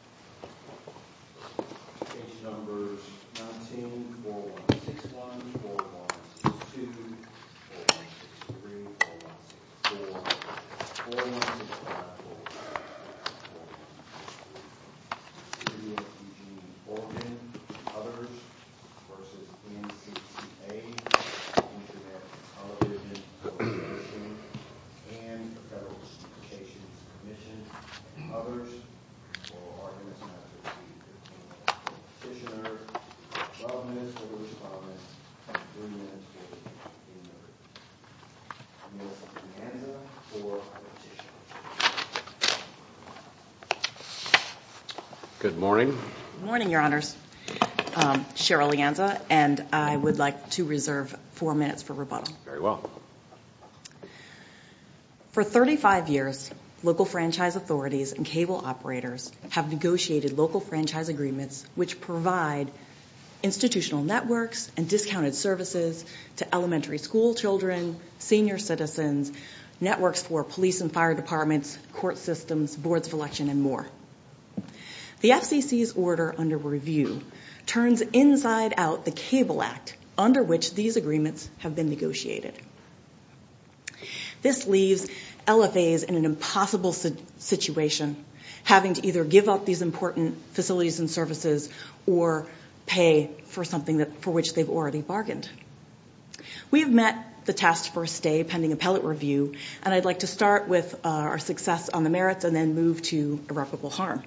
? Good morning. Good morning, your honors. Cheryl Lianza, and I would like to reserve four minutes for rebuttal. Very well. For 35 years, local franchise authorities and cable operators have negotiated local franchise agreements which provide institutional networks and discounted services to elementary school children, senior citizens, networks for police and fire departments, court systems, boards of election, and more. The FCC's order under review turns inside out the Cable Act under which these agreements have been negotiated. This leaves LFAs in an impossible situation, having to either give up these important facilities and services or pay for something for which they've already bargained. We have met the task for a stay pending appellate review, and I'd like to start with our success on the merits and then move to irreparable harm.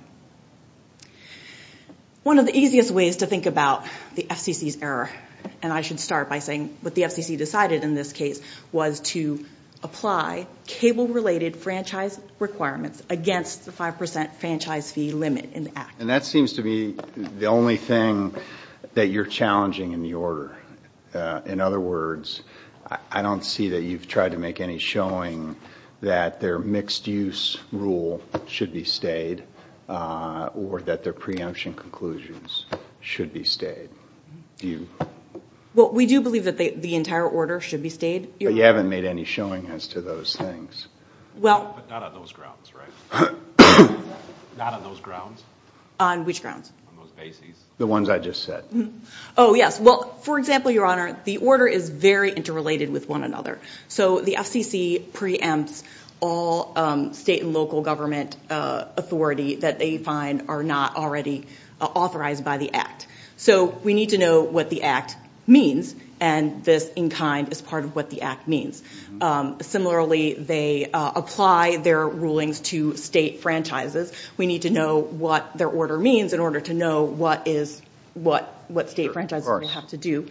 One of the easiest ways to think about the FCC's error, and I should start by saying what the FCC decided in this case, was to apply cable-related franchise requirements against the 5% franchise fee limit in the act. And that seems to be the only thing that you're challenging in the order. In other words, I don't see that you've tried to make any showing that their mixed-use rule should be stayed or that their preemption conclusions should be stayed. Do you? Well, we do believe that the entire order should be stayed. But you haven't made any showing as to those things. But not on those grounds, right? Not on those grounds? On which grounds? On those bases. The ones I just said. Oh, yes. Well, for example, Your Honor, the order is very interrelated with one another. So the FCC preempts all state and local government authority that they find are not already authorized by the act. So we need to know what the act means, and this in kind is part of what the act means. Similarly, they apply their rulings to state franchises. We need to know what their order means in order to know what state franchises have to do.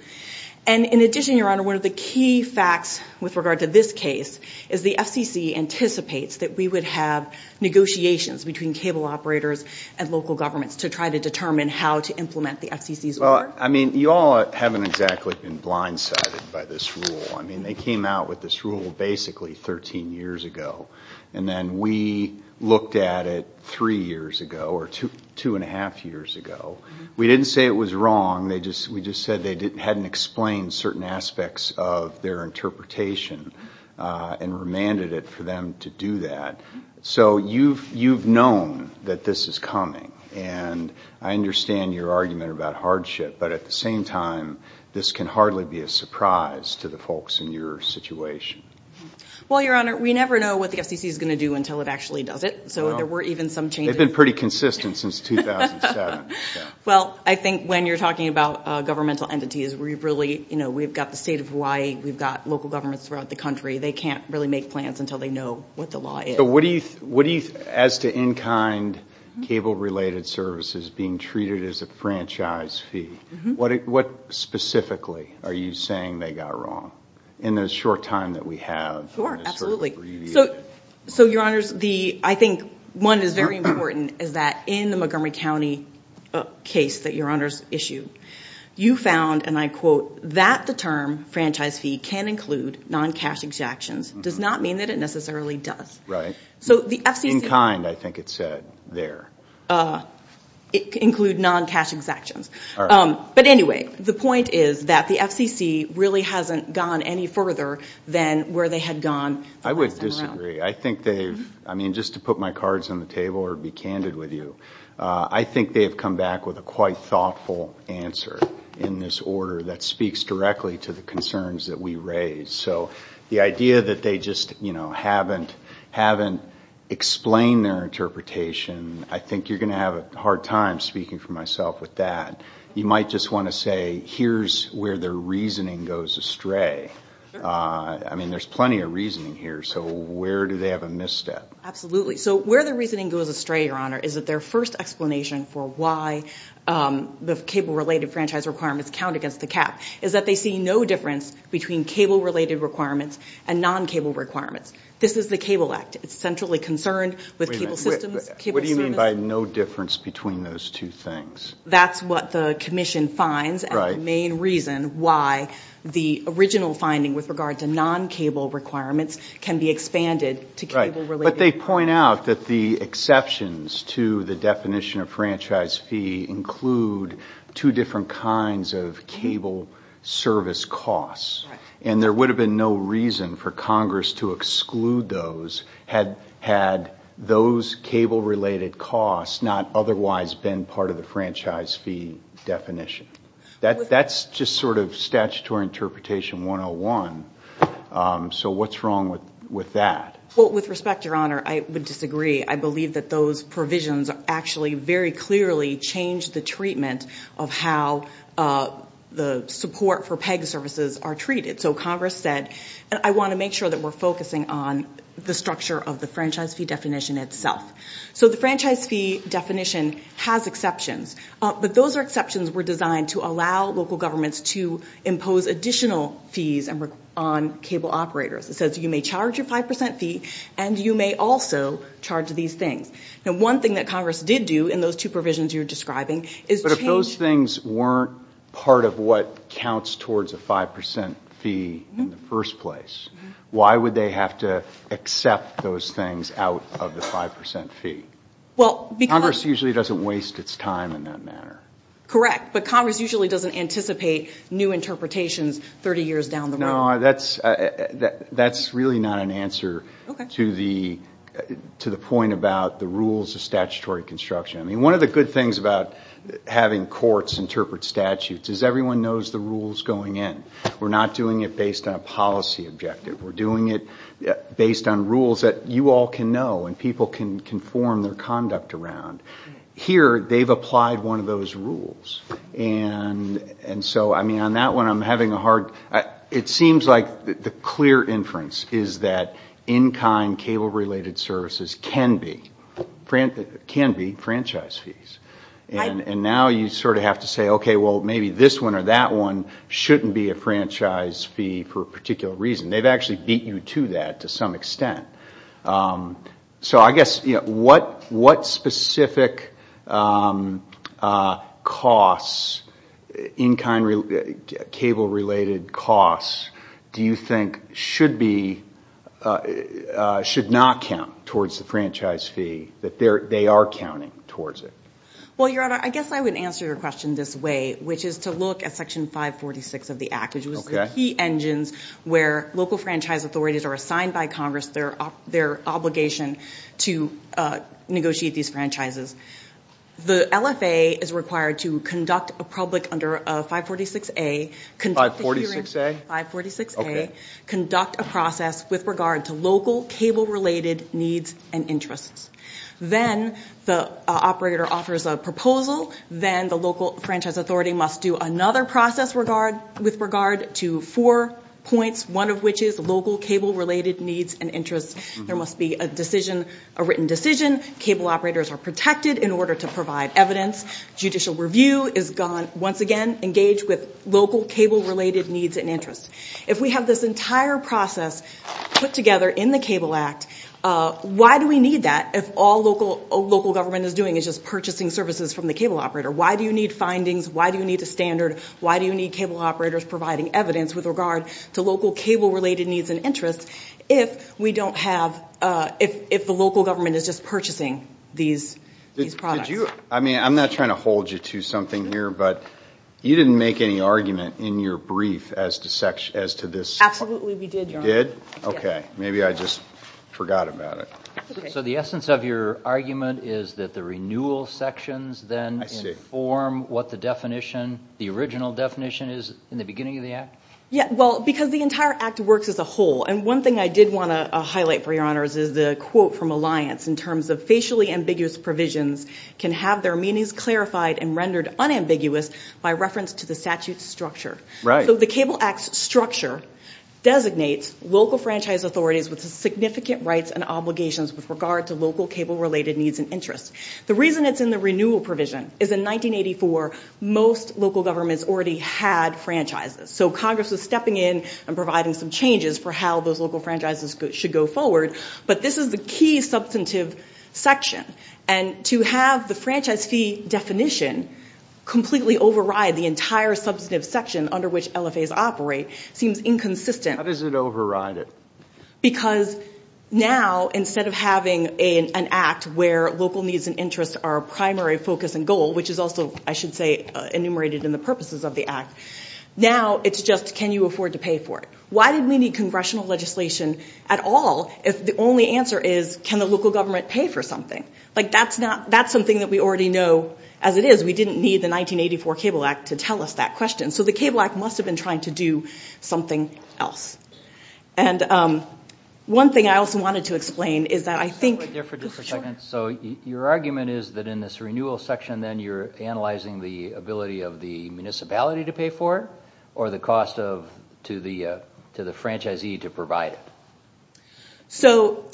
And in addition, Your Honor, one of the key facts with regard to this case is the FCC anticipates that we would have negotiations between cable operators and local governments to try to determine how to implement the FCC's order. Well, I mean, you all haven't exactly been blindsided by this rule. I mean, they came out with this rule basically 13 years ago. And then we looked at it three years ago or two and a half years ago. We didn't say it was wrong. We just said they hadn't explained certain aspects of their interpretation and remanded it for them to do that. So you've known that this is coming, and I understand your argument about hardship. But at the same time, this can hardly be a surprise to the folks in your situation. Well, Your Honor, we never know what the FCC is going to do until it actually does it. So there were even some changes. They've been pretty consistent since 2007. Well, I think when you're talking about governmental entities, we've got the state of Hawaii. We've got local governments throughout the country. They can't really make plans until they know what the law is. So as to in-kind cable-related services being treated as a franchise fee, what specifically are you saying they got wrong in the short time that we have? Sure, absolutely. So, Your Honors, I think one is very important is that in the Montgomery County case that Your Honors issued, you found, and I quote, that the term franchise fee can include non-cash exactions. It does not mean that it necessarily does. Right. In-kind, I think it said there. It can include non-cash exactions. All right. But anyway, the point is that the FCC really hasn't gone any further than where they had gone the last time around. I would disagree. I think they've, I mean, just to put my cards on the table or be candid with you, I think they have come back with a quite thoughtful answer in this order that speaks directly to the concerns that we raise. So the idea that they just, you know, haven't explained their interpretation, I think you're going to have a hard time speaking for myself with that. You might just want to say here's where their reasoning goes astray. I mean, there's plenty of reasoning here, so where do they have a misstep? Absolutely. So where their reasoning goes astray, Your Honor, is that their first explanation for why the cable-related franchise requirements count against the cap is that they see no difference between cable-related requirements and non-cable requirements. This is the Cable Act. It's centrally concerned with cable systems, cable service. Wait a minute. What do you mean by no difference between those two things? That's what the commission finds. Right. And the main reason why the original finding with regard to non-cable requirements can be expanded to cable-related. Right. But they point out that the exceptions to the definition of franchise fee include two different kinds of cable service costs. Right. And there would have been no reason for Congress to exclude those had those cable-related costs not otherwise been part of the franchise fee definition. That's just sort of statutory interpretation 101. So what's wrong with that? Well, with respect, Your Honor, I would disagree. I believe that those provisions actually very clearly change the treatment of how the support for PEG services are treated. So Congress said, I want to make sure that we're focusing on the structure of the franchise fee definition itself. So the franchise fee definition has exceptions, but those exceptions were designed to allow local governments to impose additional fees on cable operators. It says you may charge a 5 percent fee and you may also charge these things. Now, one thing that Congress did do in those two provisions you're describing is change. But if those things weren't part of what counts towards a 5 percent fee in the first place, why would they have to accept those things out of the 5 percent fee? Congress usually doesn't waste its time in that manner. Correct. Your Honor, that's really not an answer to the point about the rules of statutory construction. One of the good things about having courts interpret statutes is everyone knows the rules going in. We're not doing it based on a policy objective. We're doing it based on rules that you all can know and people can form their conduct around. Here, they've applied one of those rules. On that one, I'm having a hard time. It seems like the clear inference is that in-kind cable-related services can be franchise fees. And now you sort of have to say, okay, well, maybe this one or that one shouldn't be a franchise fee for a particular reason. They've actually beat you to that to some extent. So I guess what specific costs, in-kind cable-related costs, do you think should not count towards the franchise fee, that they are counting towards it? Well, Your Honor, I guess I would answer your question this way, which is to look at Section 546 of the Act, which was the key engines where local franchise authorities are assigned by Congress their obligation to negotiate these franchises. The LFA is required to conduct a process with regard to local cable-related needs and interests. Then the operator offers a proposal. Then the local franchise authority must do another process with regard to four points, one of which is local cable-related needs and interests. There must be a written decision. Cable operators are protected in order to provide evidence. Judicial review is, once again, engaged with local cable-related needs and interests. If we have this entire process put together in the Cable Act, why do we need that if all local government is doing is just purchasing services from the cable operator? Why do you need findings? Why do you need a standard? Why do you need cable operators providing evidence with regard to local cable-related needs and interests if the local government is just purchasing these products? I'm not trying to hold you to something here, but you didn't make any argument in your brief as to this. Absolutely we did, Your Honor. You did? Okay. Maybe I just forgot about it. So the essence of your argument is that the renewal sections then inform what the definition, the original definition is in the beginning of the Act? Yeah, well, because the entire Act works as a whole, and one thing I did want to highlight for Your Honors is the quote from Alliance in terms of facially ambiguous provisions can have their meanings clarified and rendered unambiguous by reference to the statute's structure. Right. So the Cable Act's structure designates local franchise authorities with significant rights and obligations with regard to local cable-related needs and interests. The reason it's in the renewal provision is in 1984 most local governments already had franchises, so Congress was stepping in and providing some changes for how those local franchises should go forward, but this is the key substantive section, and to have the franchise fee definition completely override the entire substantive section under which LFAs operate seems inconsistent. How does it override it? Because now instead of having an Act where local needs and interests are a primary focus and goal, which is also, I should say, enumerated in the purposes of the Act, now it's just can you afford to pay for it? Why did we need congressional legislation at all if the only answer is can the local government pay for something? Like that's something that we already know as it is. We didn't need the 1984 Cable Act to tell us that question, so the Cable Act must have been trying to do something else. And one thing I also wanted to explain is that I think... Wait there for just a second. So your argument is that in this renewal section then you're analyzing the ability of the municipality to pay for it or the cost to the franchisee to provide it? So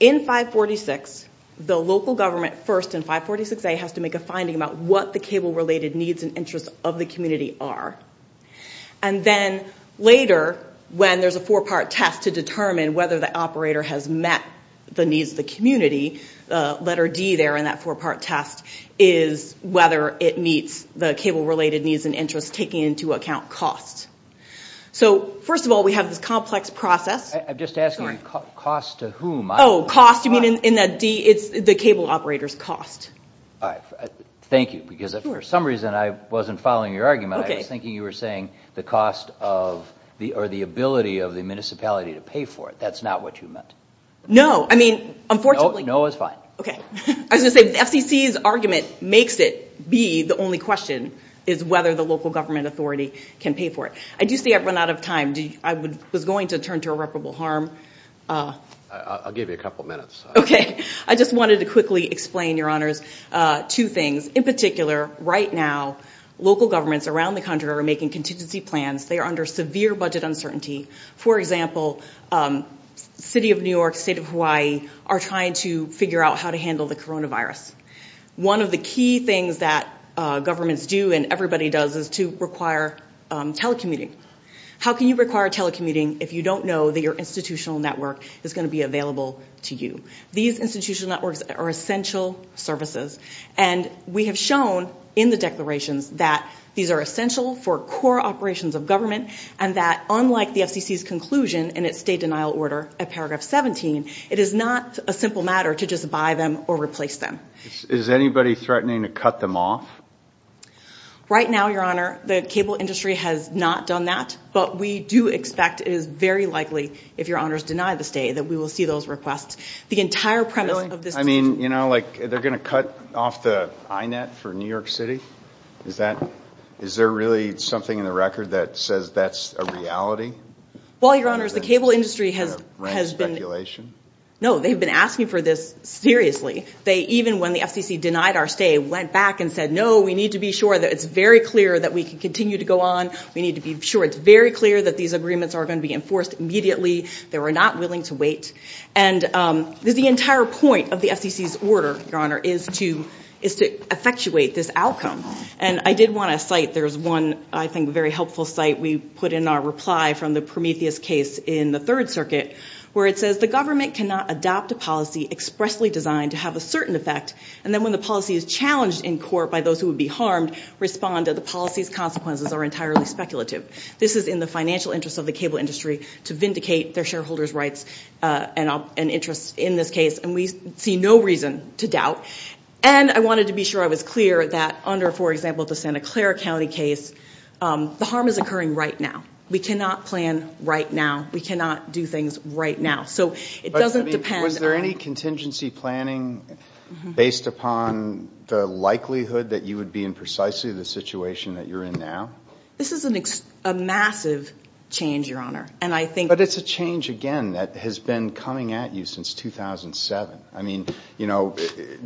in 546, the local government, first in 546A, has to make a finding about what the cable-related needs and interests of the community are. And then later, when there's a four-part test to determine whether the operator has met the needs of the community, letter D there in that four-part test is whether it meets the cable-related needs and interests, taking into account cost. So, first of all, we have this complex process. I'm just asking cost to whom? Oh, cost. You mean in that D? It's the cable operator's cost. All right. Thank you, because for some reason I wasn't following your argument. I was thinking you were saying the cost of or the ability of the municipality to pay for it. That's not what you meant. No. I mean, unfortunately... No is fine. Okay. I was going to say FCC's argument makes it be the only question is whether the local government authority can pay for it. I do see I've run out of time. I was going to turn to irreparable harm. I'll give you a couple minutes. Okay. I just wanted to quickly explain, Your Honors, two things. In particular, right now, local governments around the country are making contingency plans. They are under severe budget uncertainty. For example, City of New York, State of Hawaii are trying to figure out how to handle the coronavirus. One of the key things that governments do and everybody does is to require telecommuting. How can you require telecommuting if you don't know that your institutional network is going to be available to you? These institutional networks are essential services. And we have shown in the declarations that these are essential for core operations of government and that unlike the FCC's conclusion in its state denial order at paragraph 17, it is not a simple matter to just buy them or replace them. Is anybody threatening to cut them off? Right now, Your Honor, the cable industry has not done that, but we do expect it is very likely if Your Honors deny the state that we will see those requests. The entire premise of this... I mean, you know, like they're going to cut off the INET for New York City? Is there really something in the record that says that's a reality? Well, Your Honors, the cable industry has been... Is that a speculation? No, they've been asking for this seriously. Even when the FCC denied our stay, went back and said, no, we need to be sure that it's very clear that we can continue to go on. We need to be sure it's very clear that these agreements are going to be enforced immediately. They were not willing to wait. And the entire point of the FCC's order, Your Honor, is to effectuate this outcome. And I did want to cite... There's one, I think, very helpful site we put in our reply from the Prometheus case in the Third Circuit, where it says the government cannot adopt a policy expressly designed to have a certain effect and then when the policy is challenged in court by those who would be harmed, respond that the policy's consequences are entirely speculative. This is in the financial interests of the cable industry to vindicate their shareholders' rights and interests in this case, and we see no reason to doubt. And I wanted to be sure I was clear that under, for example, the Santa Clara County case, the harm is occurring right now. We cannot plan right now. We cannot do things right now. So it doesn't depend on... Was there any contingency planning based upon the likelihood that you would be in precisely the situation that you're in now? This is a massive change, Your Honor, and I think... But it's a change, again, that has been coming at you since 2007. I mean, you know,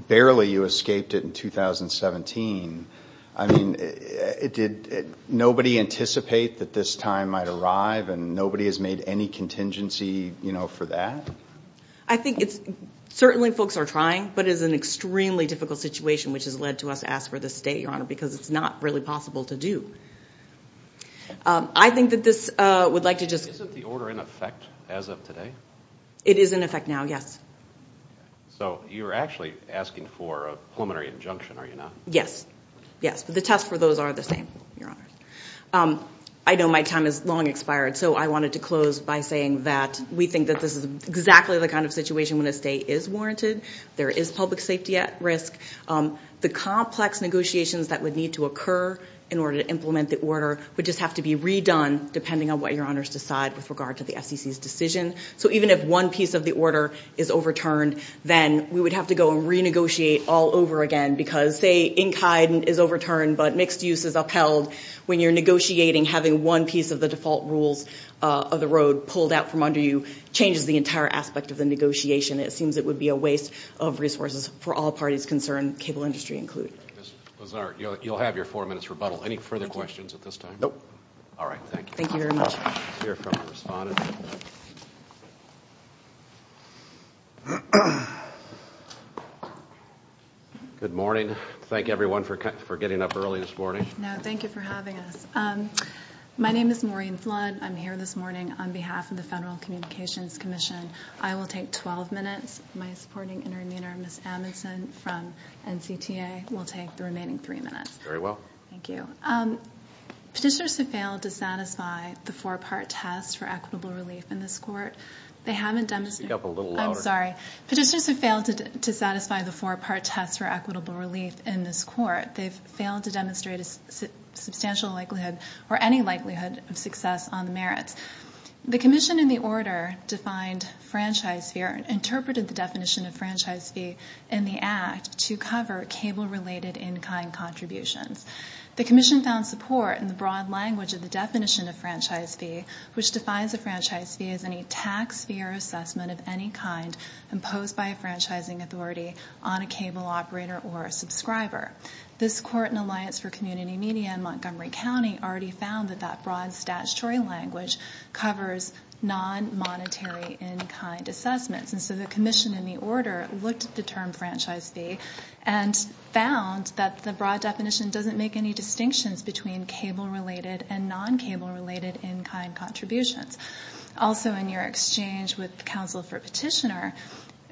barely you escaped it in 2017. I mean, did nobody anticipate that this time might arrive and nobody has made any contingency, you know, for that? I think it's... Certainly folks are trying, but it is an extremely difficult situation, which has led to us asking for this stay, Your Honor, because it's not really possible to do. I think that this would like to just... Isn't the order in effect as of today? It is in effect now, yes. So you're actually asking for a preliminary injunction, are you not? Yes. Yes, but the tests for those are the same, Your Honor. I know my time has long expired, so I wanted to close by saying that we think that this is exactly the kind of situation when a stay is warranted, there is public safety at risk. The complex negotiations that would need to occur in order to implement the order would just have to be redone depending on what Your Honors decide with regard to the FCC's decision. So even if one piece of the order is overturned, then we would have to go and renegotiate all over again because, say, ink heightened is overturned but mixed use is upheld. When you're negotiating, having one piece of the default rules of the road pulled out from under you changes the entire aspect of the negotiation. It seems it would be a waste of resources for all parties concerned, cable industry included. Ms. Lazar, you'll have your four minutes rebuttal. Any further questions at this time? Nope. All right, thank you. Thank you very much. Let's hear from the respondent. Good morning. Thank everyone for getting up early this morning. No, thank you for having us. My name is Maureen Flood. I'm here this morning on behalf of the Federal Communications Commission. I will take 12 minutes. My supporting intervener, Ms. Amundson from NCTA, will take the remaining three minutes. Very well. Thank you. Petitioners who failed to satisfy the four-part test for equitable relief in this court, they haven't demonstrated Speak up a little louder. I'm sorry. Petitioners who failed to satisfy the four-part test for equitable relief in this court, they've failed to demonstrate a substantial likelihood or any likelihood of success on the merits. The commission in the order defined franchise fee or interpreted the definition of franchise fee in the act to cover cable-related in-kind contributions. The commission found support in the broad language of the definition of franchise fee, which defines a franchise fee as any tax fee or assessment of any kind imposed by a franchising authority on a cable operator or a subscriber. This court in Alliance for Community Media in Montgomery County already found that that broad statutory language covers non-monetary in-kind assessments, and so the commission in the order looked at the term franchise fee and found that the broad definition doesn't make any distinctions between cable-related and non-cable-related in-kind contributions. Also in your exchange with counsel for petitioner,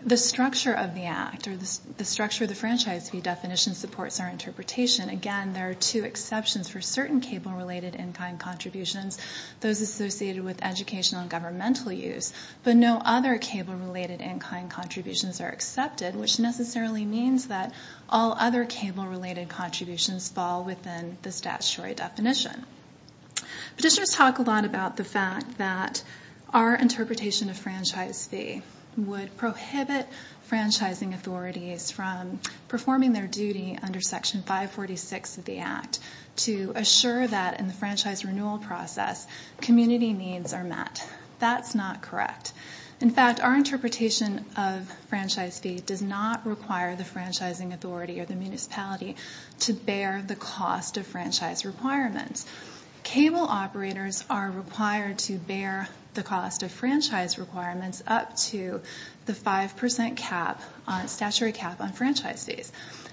the structure of the act or the structure of the franchise fee definition supports our interpretation. Again, there are two exceptions for certain cable-related in-kind contributions, those associated with educational and governmental use, but no other cable-related in-kind contributions are accepted, which necessarily means that all other cable-related contributions fall within the statutory definition. Petitioners talk a lot about the fact that our interpretation of franchise fee would prohibit franchising authorities from performing their duty under Section 546 of the act to assure that in the franchise renewal process, community needs are met. That's not correct. In fact, our interpretation of franchise fee does not require the franchising authority or the municipality to bear the cost of franchise requirements. Cable operators are required to bear the cost of franchise requirements up to the 5% statutory cap on franchise fees.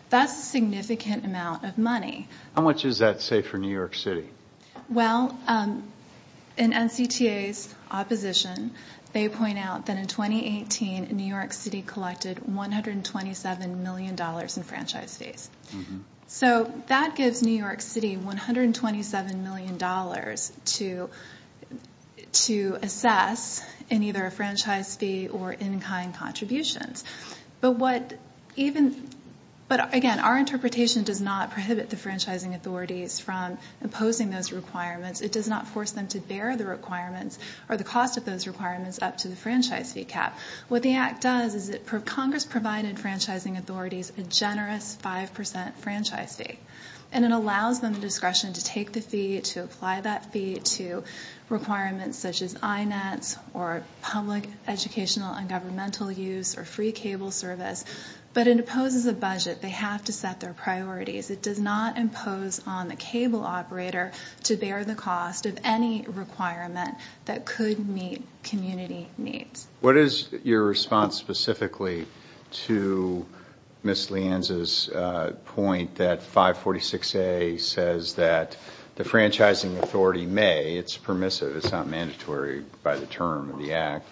That's a significant amount of money. How much is that, say, for New York City? Well, in NCTA's opposition, they point out that in 2018, New York City collected $127 million in franchise fees. So that gives New York City $127 million to assess in either a franchise fee or in-kind contributions. But again, our interpretation does not prohibit the franchising authorities from imposing those requirements. It does not force them to bear the requirements or the cost of those requirements up to the franchise fee cap. What the act does is Congress provided franchising authorities a generous 5% franchise fee, and it allows them the discretion to take the fee, to apply that fee to requirements such as INETs or public educational and governmental use or free cable service. But it imposes a budget. They have to set their priorities. It does not impose on the cable operator to bear the cost of any requirement that could meet community needs. What is your response specifically to Ms. Lienz's point that 546A says that the franchising authority may, it's permissive, it's not mandatory by the term of the act,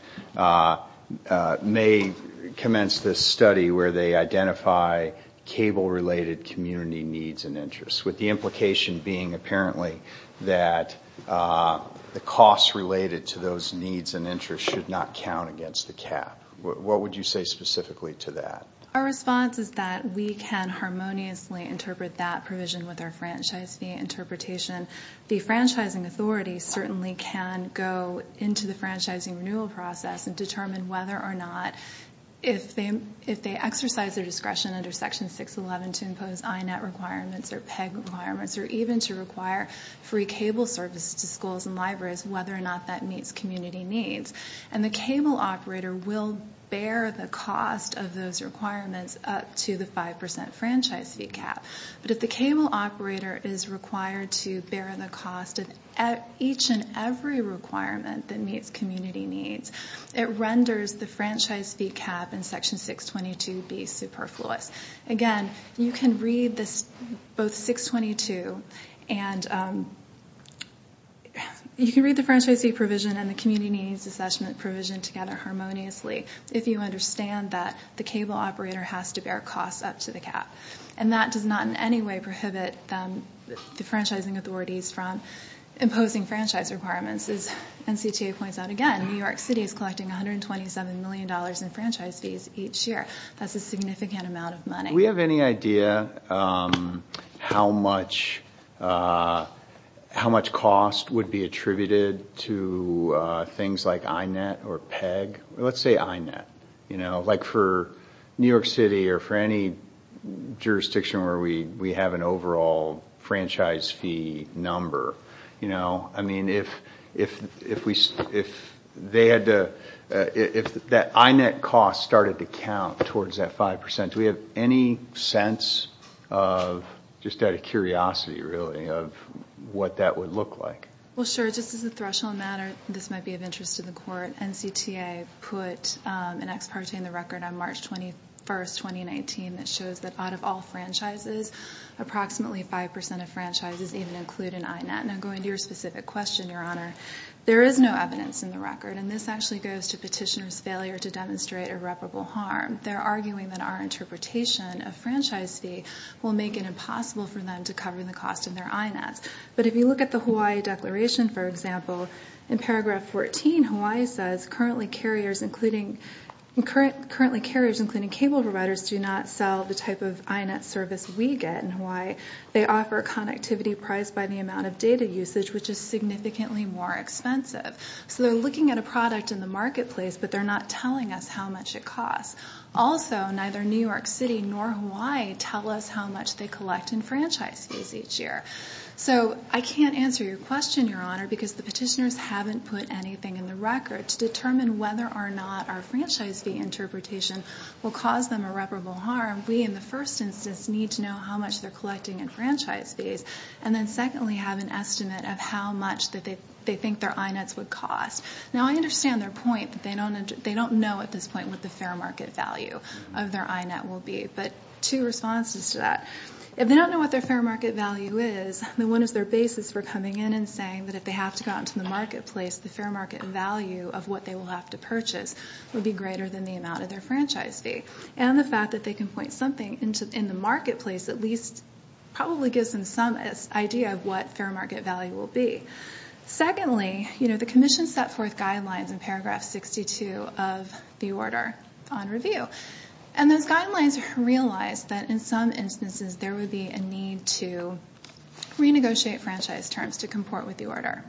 may commence this study where they identify cable-related community needs and interests, with the implication being apparently that the costs related to those needs and interests should not count against the cap. What would you say specifically to that? Our response is that we can harmoniously interpret that provision with our franchise fee interpretation. The franchising authority certainly can go into the franchising renewal process and determine whether or not if they exercise their discretion under Section 611 to impose INET requirements or PEG requirements or even to require free cable service to schools and libraries, whether or not that meets community needs. And the cable operator will bear the cost of those requirements up to the 5% franchise fee cap. But if the cable operator is required to bear the cost of each and every requirement that meets community needs, it renders the franchise fee cap in Section 622B superfluous. Again, you can read both 622 and you can read the franchise fee provision and the community needs assessment provision together harmoniously if you understand that the cable operator has to bear costs up to the cap. And that does not in any way prohibit the franchising authorities from imposing franchise requirements. As NCTA points out again, New York City is collecting $127 million in franchise fees each year. That's a significant amount of money. Do we have any idea how much cost would be attributed to things like INET or PEG? Let's say INET, like for New York City or for any jurisdiction where we have an overall franchise fee number. I mean, if that INET cost started to count towards that 5%, do we have any sense of, just out of curiosity really, of what that would look like? Well, sure. Just as a threshold matter, this might be of interest to the Court. NCTA put an ex parte in the record on March 21, 2019, that shows that out of all franchises, approximately 5% of franchises even include an INET. Now, going to your specific question, Your Honor, there is no evidence in the record, and this actually goes to petitioners' failure to demonstrate irreparable harm. They're arguing that our interpretation of franchise fee will make it impossible for them to cover the cost of their INETs. But if you look at the Hawaii Declaration, for example, in paragraph 14, Hawaii says currently carriers, including cable providers, do not sell the type of INET service we get in Hawaii. They offer connectivity priced by the amount of data usage, which is significantly more expensive. So they're looking at a product in the marketplace, but they're not telling us how much it costs. Also, neither New York City nor Hawaii tell us how much they collect in franchise fees each year. So I can't answer your question, Your Honor, because the petitioners haven't put anything in the record to determine whether or not our franchise fee interpretation will cause them irreparable harm. We, in the first instance, need to know how much they're collecting in franchise fees, and then secondly have an estimate of how much they think their INETs would cost. Now, I understand their point that they don't know at this point what the fair market value of their INET will be, but two responses to that. If they don't know what their fair market value is, then what is their basis for coming in and saying that if they have to go out into the marketplace, the fair market value of what they will have to purchase would be greater than the amount of their franchise fee? And the fact that they can point something in the marketplace at least probably gives them some idea of what fair market value will be. Secondly, the commission set forth guidelines in paragraph 62 of the order on review, and those guidelines realize that in some instances there would be a need to renegotiate franchise terms to comport with the order.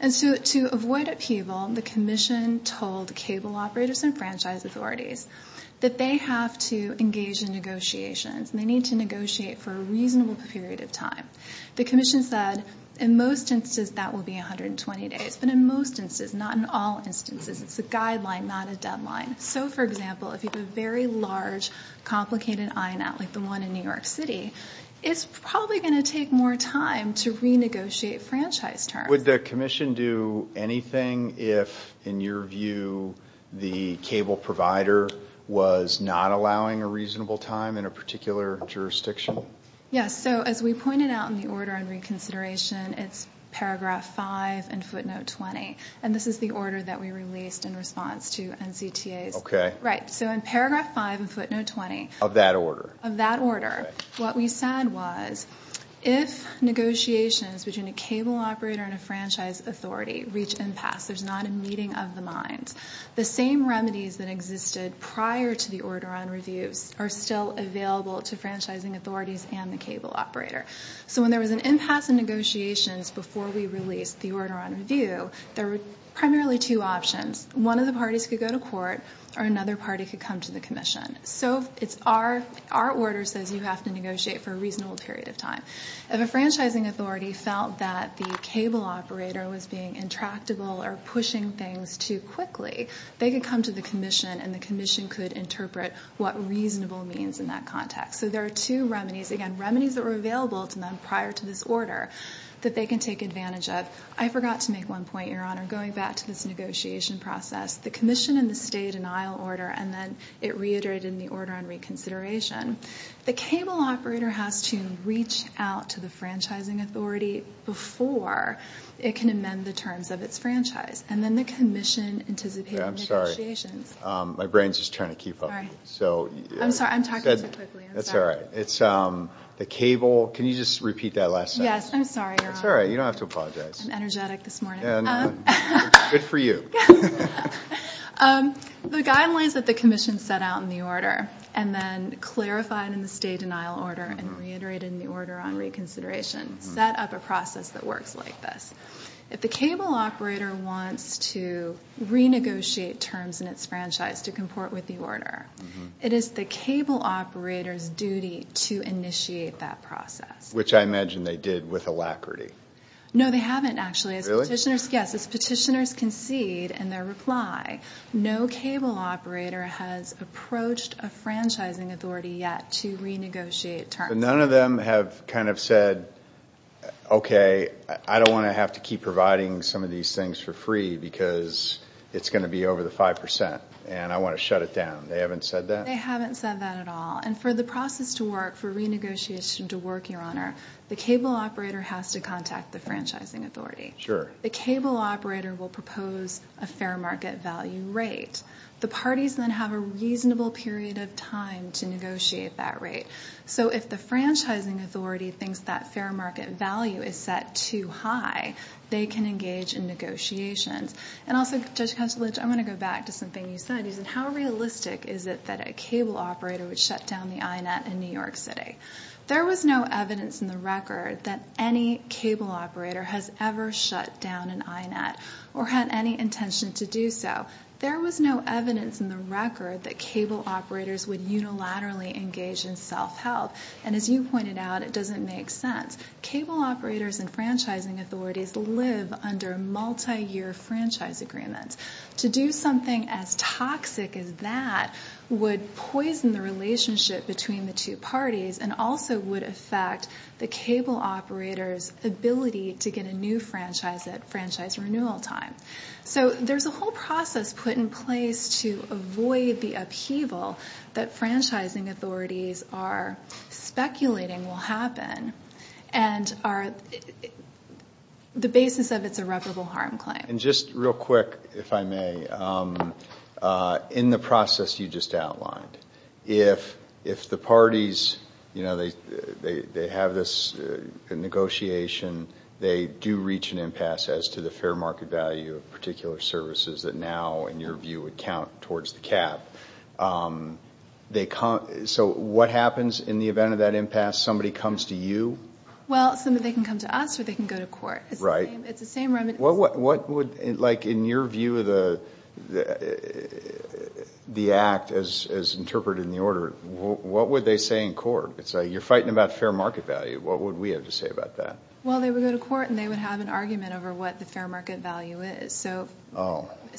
And to avoid upheaval, the commission told cable operators and franchise authorities that they have to engage in negotiations, and they need to negotiate for a reasonable period of time. The commission said in most instances that will be 120 days, but in most instances, not in all instances, it's a guideline, not a deadline. So, for example, if you have a very large, complicated INET like the one in New York City, it's probably going to take more time to renegotiate franchise terms. Would the commission do anything if, in your view, the cable provider was not allowing a reasonable time in a particular jurisdiction? Yes, so as we pointed out in the order on reconsideration, it's paragraph 5 and footnote 20, and this is the order that we released in response to NCTA's. Okay. Right, so in paragraph 5 and footnote 20. Of that order. Of that order. Okay. What we said was if negotiations between a cable operator and a franchise authority reach impasse, there's not a meeting of the minds. The same remedies that existed prior to the order on reviews are still available to franchising authorities and the cable operator. So when there was an impasse in negotiations before we released the order on review, there were primarily two options. One of the parties could go to court or another party could come to the commission. So our order says you have to negotiate for a reasonable period of time. If a franchising authority felt that the cable operator was being intractable or pushing things too quickly, they could come to the commission and the commission could interpret what reasonable means in that context. So there are two remedies. Again, remedies that were available to them prior to this order that they can take advantage of. I forgot to make one point, Your Honor, going back to this negotiation process. The commission in the stay-denial order and then it reiterated in the order on reconsideration. The cable operator has to reach out to the franchising authority before it can amend the terms of its franchise. And then the commission anticipates negotiations. I'm sorry. My brain's just trying to keep up. Sorry. I'm sorry. I'm talking too quickly. That's all right. It's the cable. Can you just repeat that last sentence? Yes. I'm sorry, Your Honor. That's all right. You don't have to apologize. I'm energetic this morning. Good for you. The guidelines that the commission set out in the order and then clarified in the stay-denial order and reiterated in the order on reconsideration set up a process that works like this. If the cable operator wants to renegotiate terms in its franchise to comport with the order, it is the cable operator's duty to initiate that process. Which I imagine they did with alacrity. No, they haven't, actually. Really? Yes. As petitioners concede in their reply, no cable operator has approached a franchising authority yet to renegotiate terms. But none of them have kind of said, okay, I don't want to have to keep providing some of these things for free because it's going to be over the 5% and I want to shut it down. They haven't said that? They haven't said that at all. And for the process to work, for renegotiation to work, Your Honor, the cable operator has to contact the franchising authority. Sure. The cable operator will propose a fair market value rate. The parties then have a reasonable period of time to negotiate that rate. So if the franchising authority thinks that fair market value is set too high, they can engage in negotiations. And also, Judge Kucinich, I'm going to go back to something you said. How realistic is it that a cable operator would shut down the INET in New York City? There was no evidence in the record that any cable operator has ever shut down an INET or had any intention to do so. There was no evidence in the record that cable operators would unilaterally engage in self-help. And as you pointed out, it doesn't make sense. Cable operators and franchising authorities live under multi-year franchise agreements. To do something as toxic as that would poison the relationship between the two parties and also would affect the cable operator's ability to get a new franchise at franchise renewal time. So there's a whole process put in place to avoid the upheaval that franchising authorities are speculating will happen and are the basis of its irreparable harm claim. And just real quick, if I may, in the process you just outlined, if the parties have this negotiation, they do reach an impasse as to the fair market value of particular services that now, in your view, would count towards the cap. So what happens in the event of that impasse? Somebody comes to you? Well, somebody can come to us or they can go to court. Right. It's the same remedy. What would, like in your view of the act as interpreted in the order, what would they say in court? You're fighting about fair market value. What would we have to say about that? Well, they would go to court and they would have an argument over what the fair market value is. So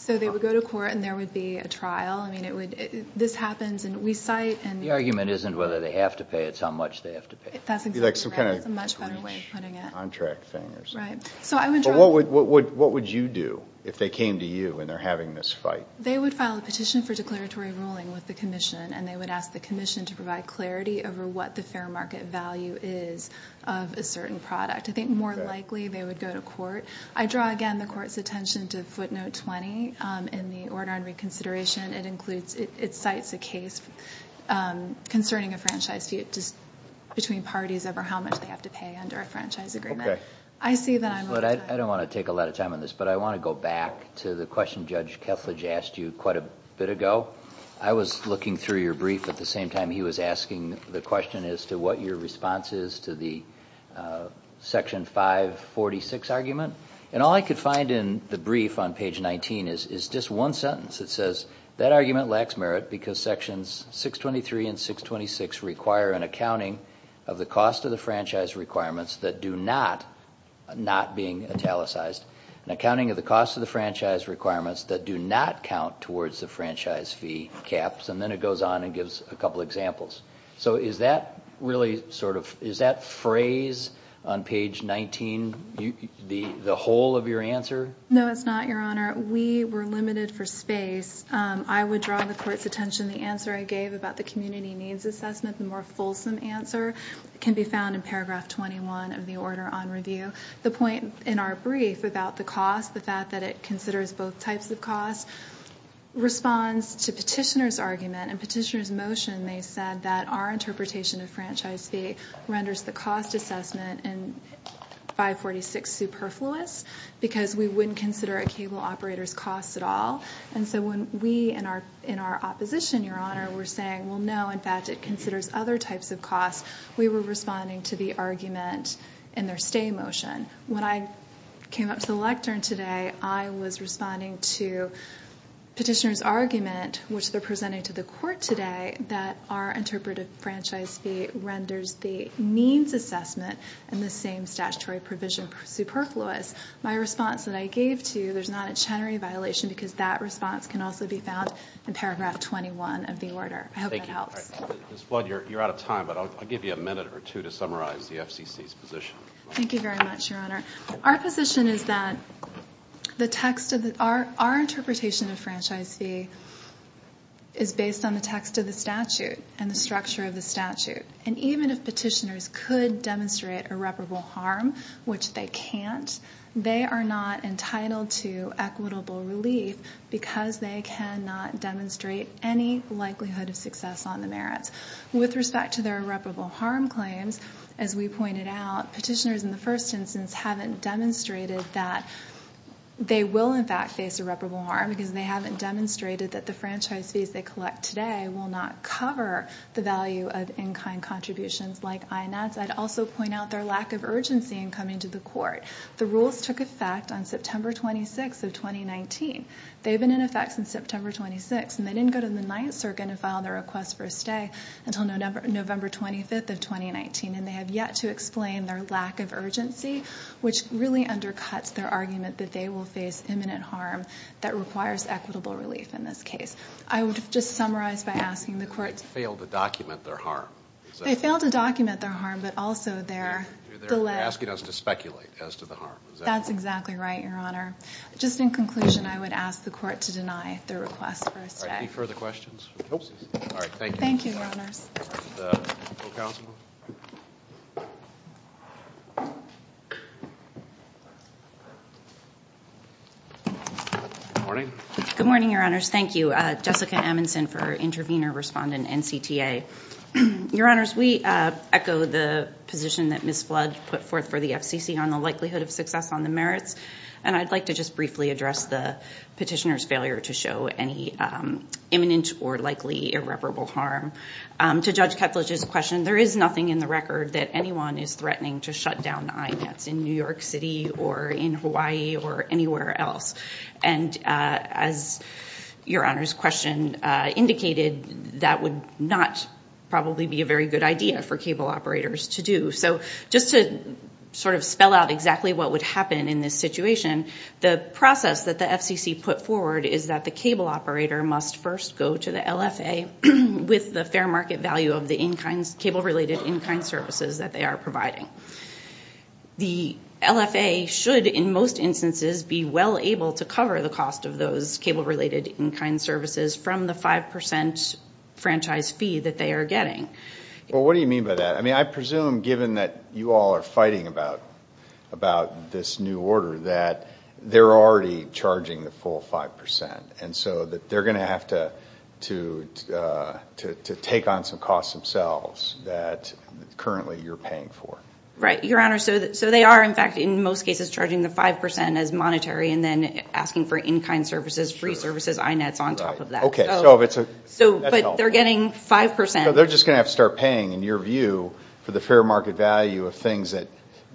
they would go to court and there would be a trial. I mean, this happens and we cite. The argument isn't whether they have to pay, it's how much they have to pay. That's exactly right. It's a much better way of putting it. Contract fangers. Right. But what would you do if they came to you and they're having this fight? They would file a petition for declaratory ruling with the commission and they would ask the commission to provide clarity over what the fair market value is of a certain product. I think more likely they would go to court. I draw again the court's attention to footnote 20 in the order on reconsideration. It includes, it cites a case concerning a franchise fee between parties over how much they have to pay under a franchise agreement. Okay. I see that I'm over time. I don't want to take a lot of time on this, but I want to go back to the question Judge Kethledge asked you quite a bit ago. I was looking through your brief at the same time he was asking the question as to what your response is to the section 546 argument. All I could find in the brief on page 19 is just one sentence that says, that argument lacks merit because sections 623 and 626 require an accounting of the cost of the franchise requirements that do not, not being italicized, an accounting of the cost of the franchise requirements that do not count towards the franchise fee caps. Then it goes on and gives a couple examples. So is that phrase on page 19 the whole of your answer? No, it's not, Your Honor. We were limited for space. I would draw the court's attention, the answer I gave about the community needs assessment, the more fulsome answer can be found in paragraph 21 of the order on review. The point in our brief about the cost, the fact that it considers both types of costs, responds to petitioner's argument and petitioner's motion. They said that our interpretation of franchise fee renders the cost assessment in 546 superfluous because we wouldn't consider a cable operator's costs at all. And so when we in our opposition, Your Honor, were saying, well, no, in fact it considers other types of costs, we were responding to the argument in their stay motion. When I came up to the lectern today, I was responding to petitioner's argument, which they're presenting to the court today, that our interpretive franchise fee renders the means assessment in the same statutory provision superfluous. My response that I gave to you, there's not a general violation because that response can also be found in paragraph 21 of the order. I hope that helps. Ms. Flood, you're out of time, but I'll give you a minute or two to summarize the FCC's position. Thank you very much, Your Honor. Our position is that our interpretation of franchise fee is based on the text of the statute and the structure of the statute. And even if petitioners could demonstrate irreparable harm, which they can't, they are not entitled to equitable relief because they cannot demonstrate any likelihood of success on the merits. With respect to their irreparable harm claims, as we pointed out, petitioners, in the first instance, haven't demonstrated that they will, in fact, face irreparable harm because they haven't demonstrated that the franchise fees they collect today will not cover the value of in-kind contributions like INS. I'd also point out their lack of urgency in coming to the court. The rules took effect on September 26 of 2019. They've been in effect since September 26, and they didn't go to the Ninth Circuit and file their request for a stay until November 25 of 2019, and they have yet to explain their lack of urgency, which really undercuts their argument that they will face imminent harm that requires equitable relief in this case. I would just summarize by asking the court to... They failed to document their harm. They failed to document their harm, but also their delay... They're asking us to speculate as to the harm. That's exactly right, Your Honor. Just in conclusion, I would ask the court to deny their request for a stay. All right, any further questions? All right, thank you. Thank you, Your Honors. Counsel? Good morning. Good morning, Your Honors. Thank you. Jessica Amundson for Intervenor Respondent, NCTA. Your Honors, we echo the position that Ms. Flood put forth for the FCC on the likelihood of success on the merits, and I'd like to just briefly address the petitioner's failure to show any imminent or likely irreparable harm. To Judge Ketfledge's question, there is nothing in the record that anyone is threatening to shut down the IMETS in New York City or in Hawaii or anywhere else. And as Your Honor's question indicated, that would not probably be a very good idea for cable operators to do. So just to sort of spell out exactly what would happen in this situation, the process that the FCC put forward is that the cable operator must first go to the LFA with the fair market value of the cable-related in-kind services that they are providing. The LFA should, in most instances, be well able to cover the cost of those cable-related in-kind services from the 5% franchise fee that they are getting. Well, what do you mean by that? I mean, I presume, given that you all are fighting about this new order, that they're already charging the full 5%, and so that they're going to have to take on some costs themselves that currently you're paying for. Right, Your Honor. So they are, in fact, in most cases, charging the 5% as monetary and then asking for in-kind services, free services, IMETS on top of that. Okay. But they're getting 5%. So they're just going to have to start paying, in your view, for the fair market value of things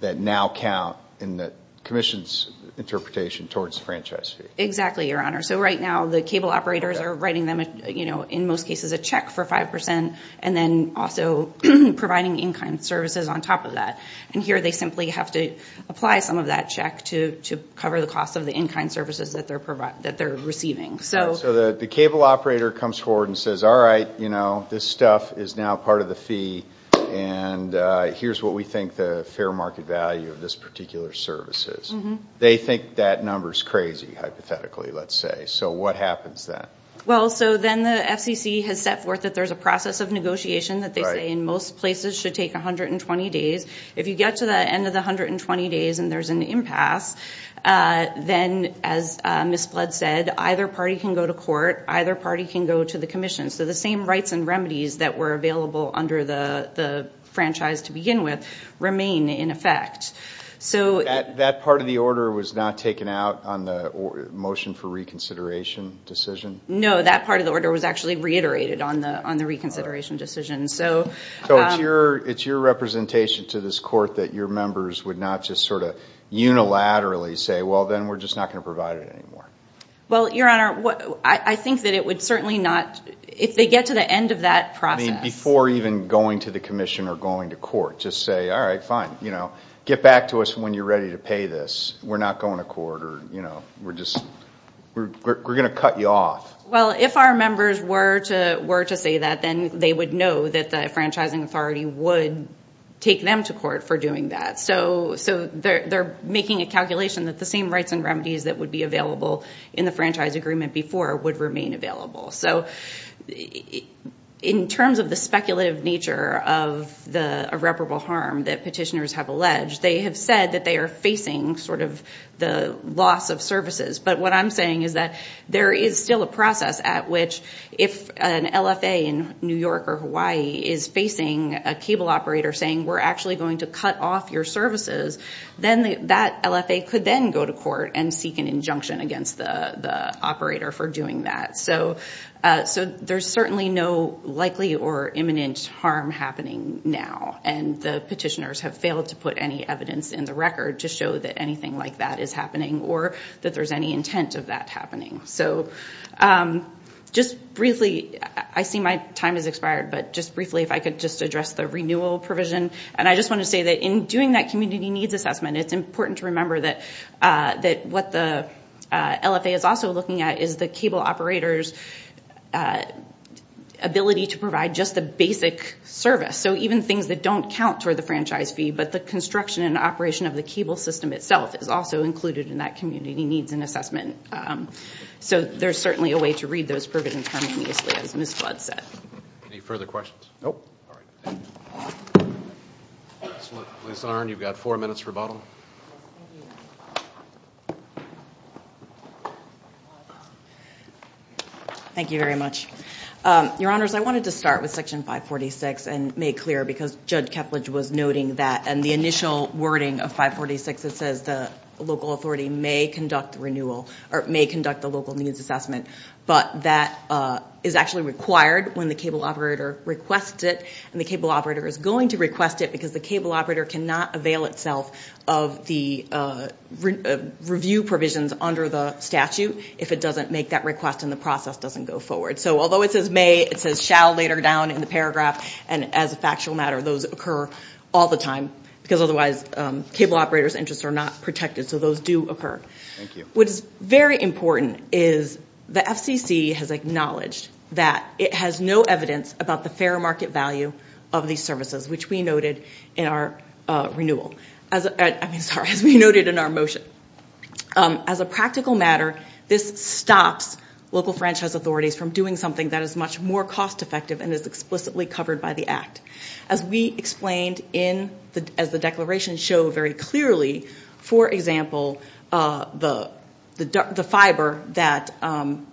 that now count in the Commission's interpretation towards the franchise fee. Exactly, Your Honor. So right now the cable operators are writing them, in most cases, a check for 5% and then also providing in-kind services on top of that. And here they simply have to apply some of that check to cover the cost of the in-kind services that they're receiving. So the cable operator comes forward and says, all right, this stuff is now part of the fee, and here's what we think the fair market value of this particular service is. They think that number is crazy, hypothetically, let's say. So what happens then? Well, so then the FCC has set forth that there's a process of negotiation that they say in most places should take 120 days. If you get to the end of the 120 days and there's an impasse, then, as Ms. Blood said, either party can go to court, either party can go to the Commission. So the same rights and remedies that were available under the franchise to begin with remain in effect. That part of the order was not taken out on the motion for reconsideration decision? No, that part of the order was actually reiterated on the reconsideration decision. So it's your representation to this Court that your members would not just sort of unilaterally say, well, then we're just not going to provide it anymore. Well, Your Honor, I think that it would certainly not, if they get to the end of that process. I mean, before even going to the Commission or going to court, just say, all right, fine, get back to us when you're ready to pay this. We're not going to court. We're going to cut you off. Well, if our members were to say that, then they would know that the franchising authority would take them to court for doing that. So they're making a calculation that the same rights and remedies that would be available in the franchise agreement before would remain available. So in terms of the speculative nature of the irreparable harm that petitioners have alleged, they have said that they are facing sort of the loss of services. But what I'm saying is that there is still a process at which if an LFA in New York or Hawaii is facing a cable operator saying, we're actually going to cut off your services, then that LFA could then go to court and seek an injunction against the operator for doing that. So there's certainly no likely or imminent harm happening now. And the petitioners have failed to put any evidence in the record to show that anything like that is happening or that there's any intent of that happening. So just briefly, I see my time has expired, but just briefly if I could just address the renewal provision. And I just want to say that in doing that community needs assessment, it's important to remember that what the LFA is also looking at is the cable operator's ability to provide just the basic service. So even things that don't count toward the franchise fee, but the construction and operation of the cable system itself is also included in that community needs and assessment. So there's certainly a way to read those provisions harmoniously, as Ms. Flood said. Any further questions? Nope. All right. Ms. Arnn, you've got four minutes for rebuttal. Thank you very much. Your Honors, I wanted to start with Section 546 and make clear because Judge Kepledge was noting that and the initial wording of 546 that says the local authority may conduct renewal or may conduct the local needs assessment, but that is actually required when the cable operator requests it, and the cable operator is going to request it because the cable operator cannot avail itself of the review provisions under the statute if it doesn't make that request and the process doesn't go forward. So although it says may, it says shall later down in the paragraph, and as a factual matter, those occur all the time because otherwise cable operator's interests are not protected, so those do occur. Thank you. What is very important is the FCC has acknowledged that it has no evidence about the fair market value of these services, which we noted in our renewal. I mean, sorry, as we noted in our motion. As a practical matter, this stops local franchise authorities from doing something that is much more cost effective and is explicitly covered by the Act. As we explained as the declarations show very clearly, for example, the fiber that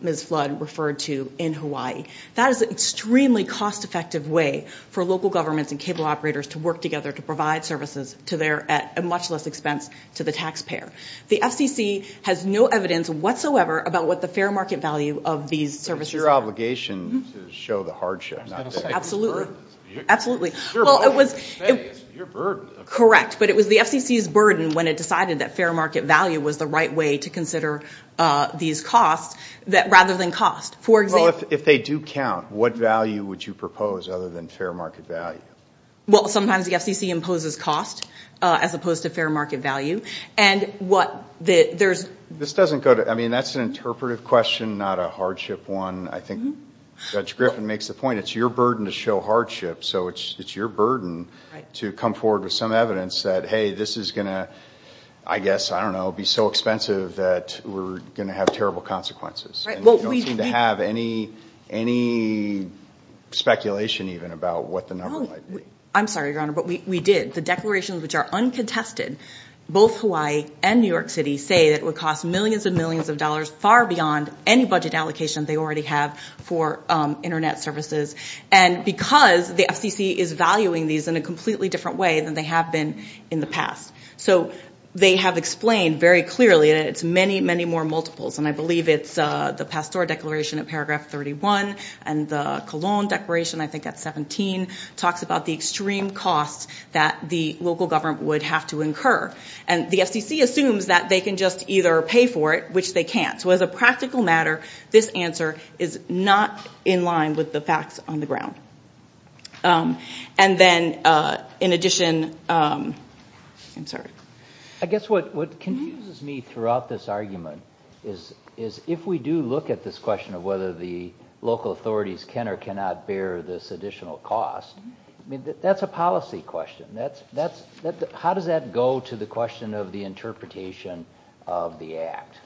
Ms. Flood referred to in Hawaii, that is an extremely cost effective way for local governments and cable operators to work together to provide services at much less expense to the taxpayer. The FCC has no evidence whatsoever about what the fair market value of these services are. It's your obligation to show the hardship, not their burden. Absolutely. Well, it was the FCC's burden when it decided that fair market value was the right way to consider these costs rather than cost. Well, if they do count, what value would you propose other than fair market value? Well, sometimes the FCC imposes cost as opposed to fair market value. And what there's... This doesn't go to... I mean, that's an interpretive question, not a hardship one. I think Judge Griffin makes the point, it's your burden to show hardship, so it's your burden to come forward with some evidence that, hey, this is going to, I guess, I don't know, be so expensive that we're going to have terrible consequences. And we don't seem to have any speculation even about what the number might be. I'm sorry, Your Honor, but we did. The declarations which are uncontested, both Hawaii and New York City, say that it would cost millions and millions of dollars, far beyond any budget allocation they already have for Internet services. And because the FCC is valuing these in a completely different way than they have been in the past. So they have explained very clearly that it's many, many more multiples, and I believe it's the Pastora Declaration in paragraph 31 and the Colon Declaration, I think that's 17, talks about the extreme costs that the local government would have to incur. And the FCC assumes that they can just either pay for it, which they can't. So as a practical matter, this answer is not in line with the facts on the ground. And then, in addition, I'm sorry. I guess what confuses me throughout this argument is if we do look at this question of whether the local authorities can or cannot bear this additional cost, that's a policy question. How does that go to the question of the interpretation of the Act?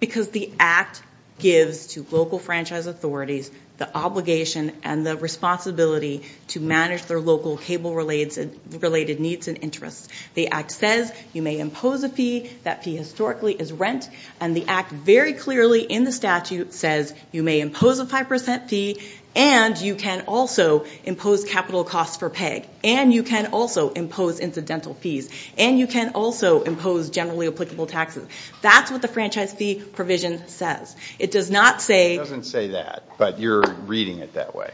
Because the Act gives to local franchise authorities the obligation and the responsibility to manage their local cable-related needs and interests. The Act says you may impose a fee. That fee historically is rent. And the Act very clearly in the statute says you may impose a 5% fee and you can also impose capital costs for PEG, and you can also impose incidental fees, and you can also impose generally applicable taxes. That's what the franchise fee provision says. It doesn't say that, but you're reading it that way.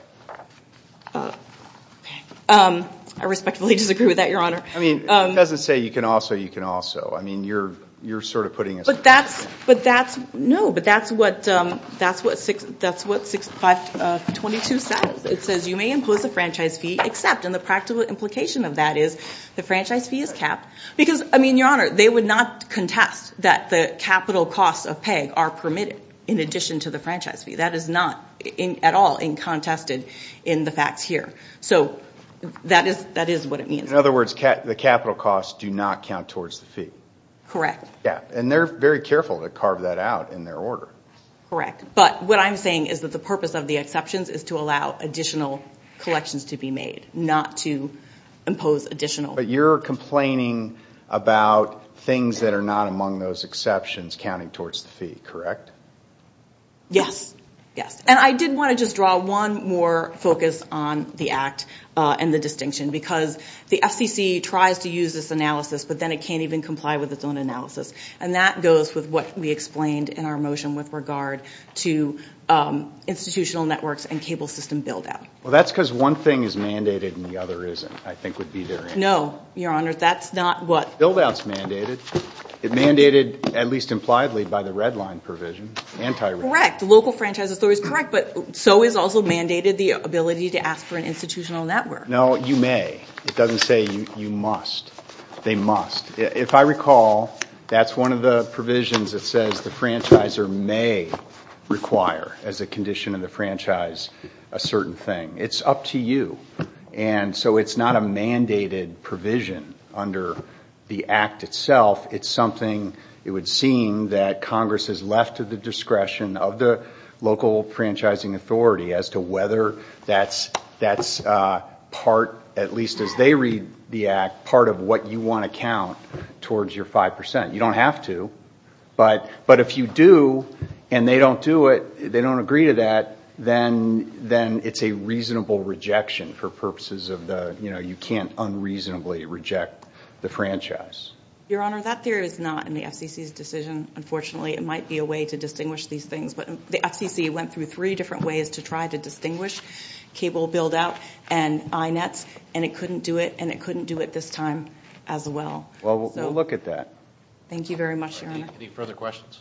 I respectfully disagree with that, Your Honor. I mean, it doesn't say you can also, you can also. I mean, you're sort of putting it that way. No, but that's what 6.522 says. It says you may impose a franchise fee, except, and the practical implication of that is the franchise fee is capped. Because, I mean, Your Honor, they would not contest that the capital costs of PEG are permitted in addition to the franchise fee. That is not at all contested in the facts here. So that is what it means. In other words, the capital costs do not count towards the fee. Correct. Yeah, and they're very careful to carve that out in their order. Correct. But what I'm saying is that the purpose of the exceptions is to allow additional collections to be made, not to impose additional. But you're complaining about things that are not among those exceptions counting towards the fee, correct? Yes, yes. And I did want to just draw one more focus on the act and the distinction, because the FCC tries to use this analysis, but then it can't even comply with its own analysis. And that goes with what we explained in our motion with regard to institutional networks and cable system build-out. Well, that's because one thing is mandated and the other isn't, I think would be their answer. No, Your Honor. That's not what? Build-out is mandated. It's mandated, at least impliedly, by the red line provision, anti-red line. Correct. The local franchise authority is correct, but so is also mandated the ability to ask for an institutional network. No, you may. It doesn't say you must. They must. If I recall, that's one of the provisions that says the franchisor may require, as a condition of the franchise, a certain thing. It's up to you. And so it's not a mandated provision under the act itself. It's something, it would seem, that Congress has left to the discretion of the local franchising authority as to whether that's part, at least as they read the act, part of what you want to count towards your 5%. You don't have to. But if you do and they don't do it, they don't agree to that, then it's a reasonable rejection for purposes of the, you know, you can't unreasonably reject the franchise. Your Honor, that theory is not in the FCC's decision, unfortunately. It might be a way to distinguish these things. But the FCC went through three different ways to try to distinguish cable build-out and INETs, and it couldn't do it, and it couldn't do it this time as well. Well, we'll look at that. Thank you very much, Your Honor. Any further questions?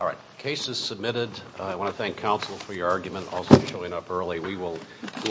All right. The case is submitted. I want to thank counsel for your argument, also for showing up early.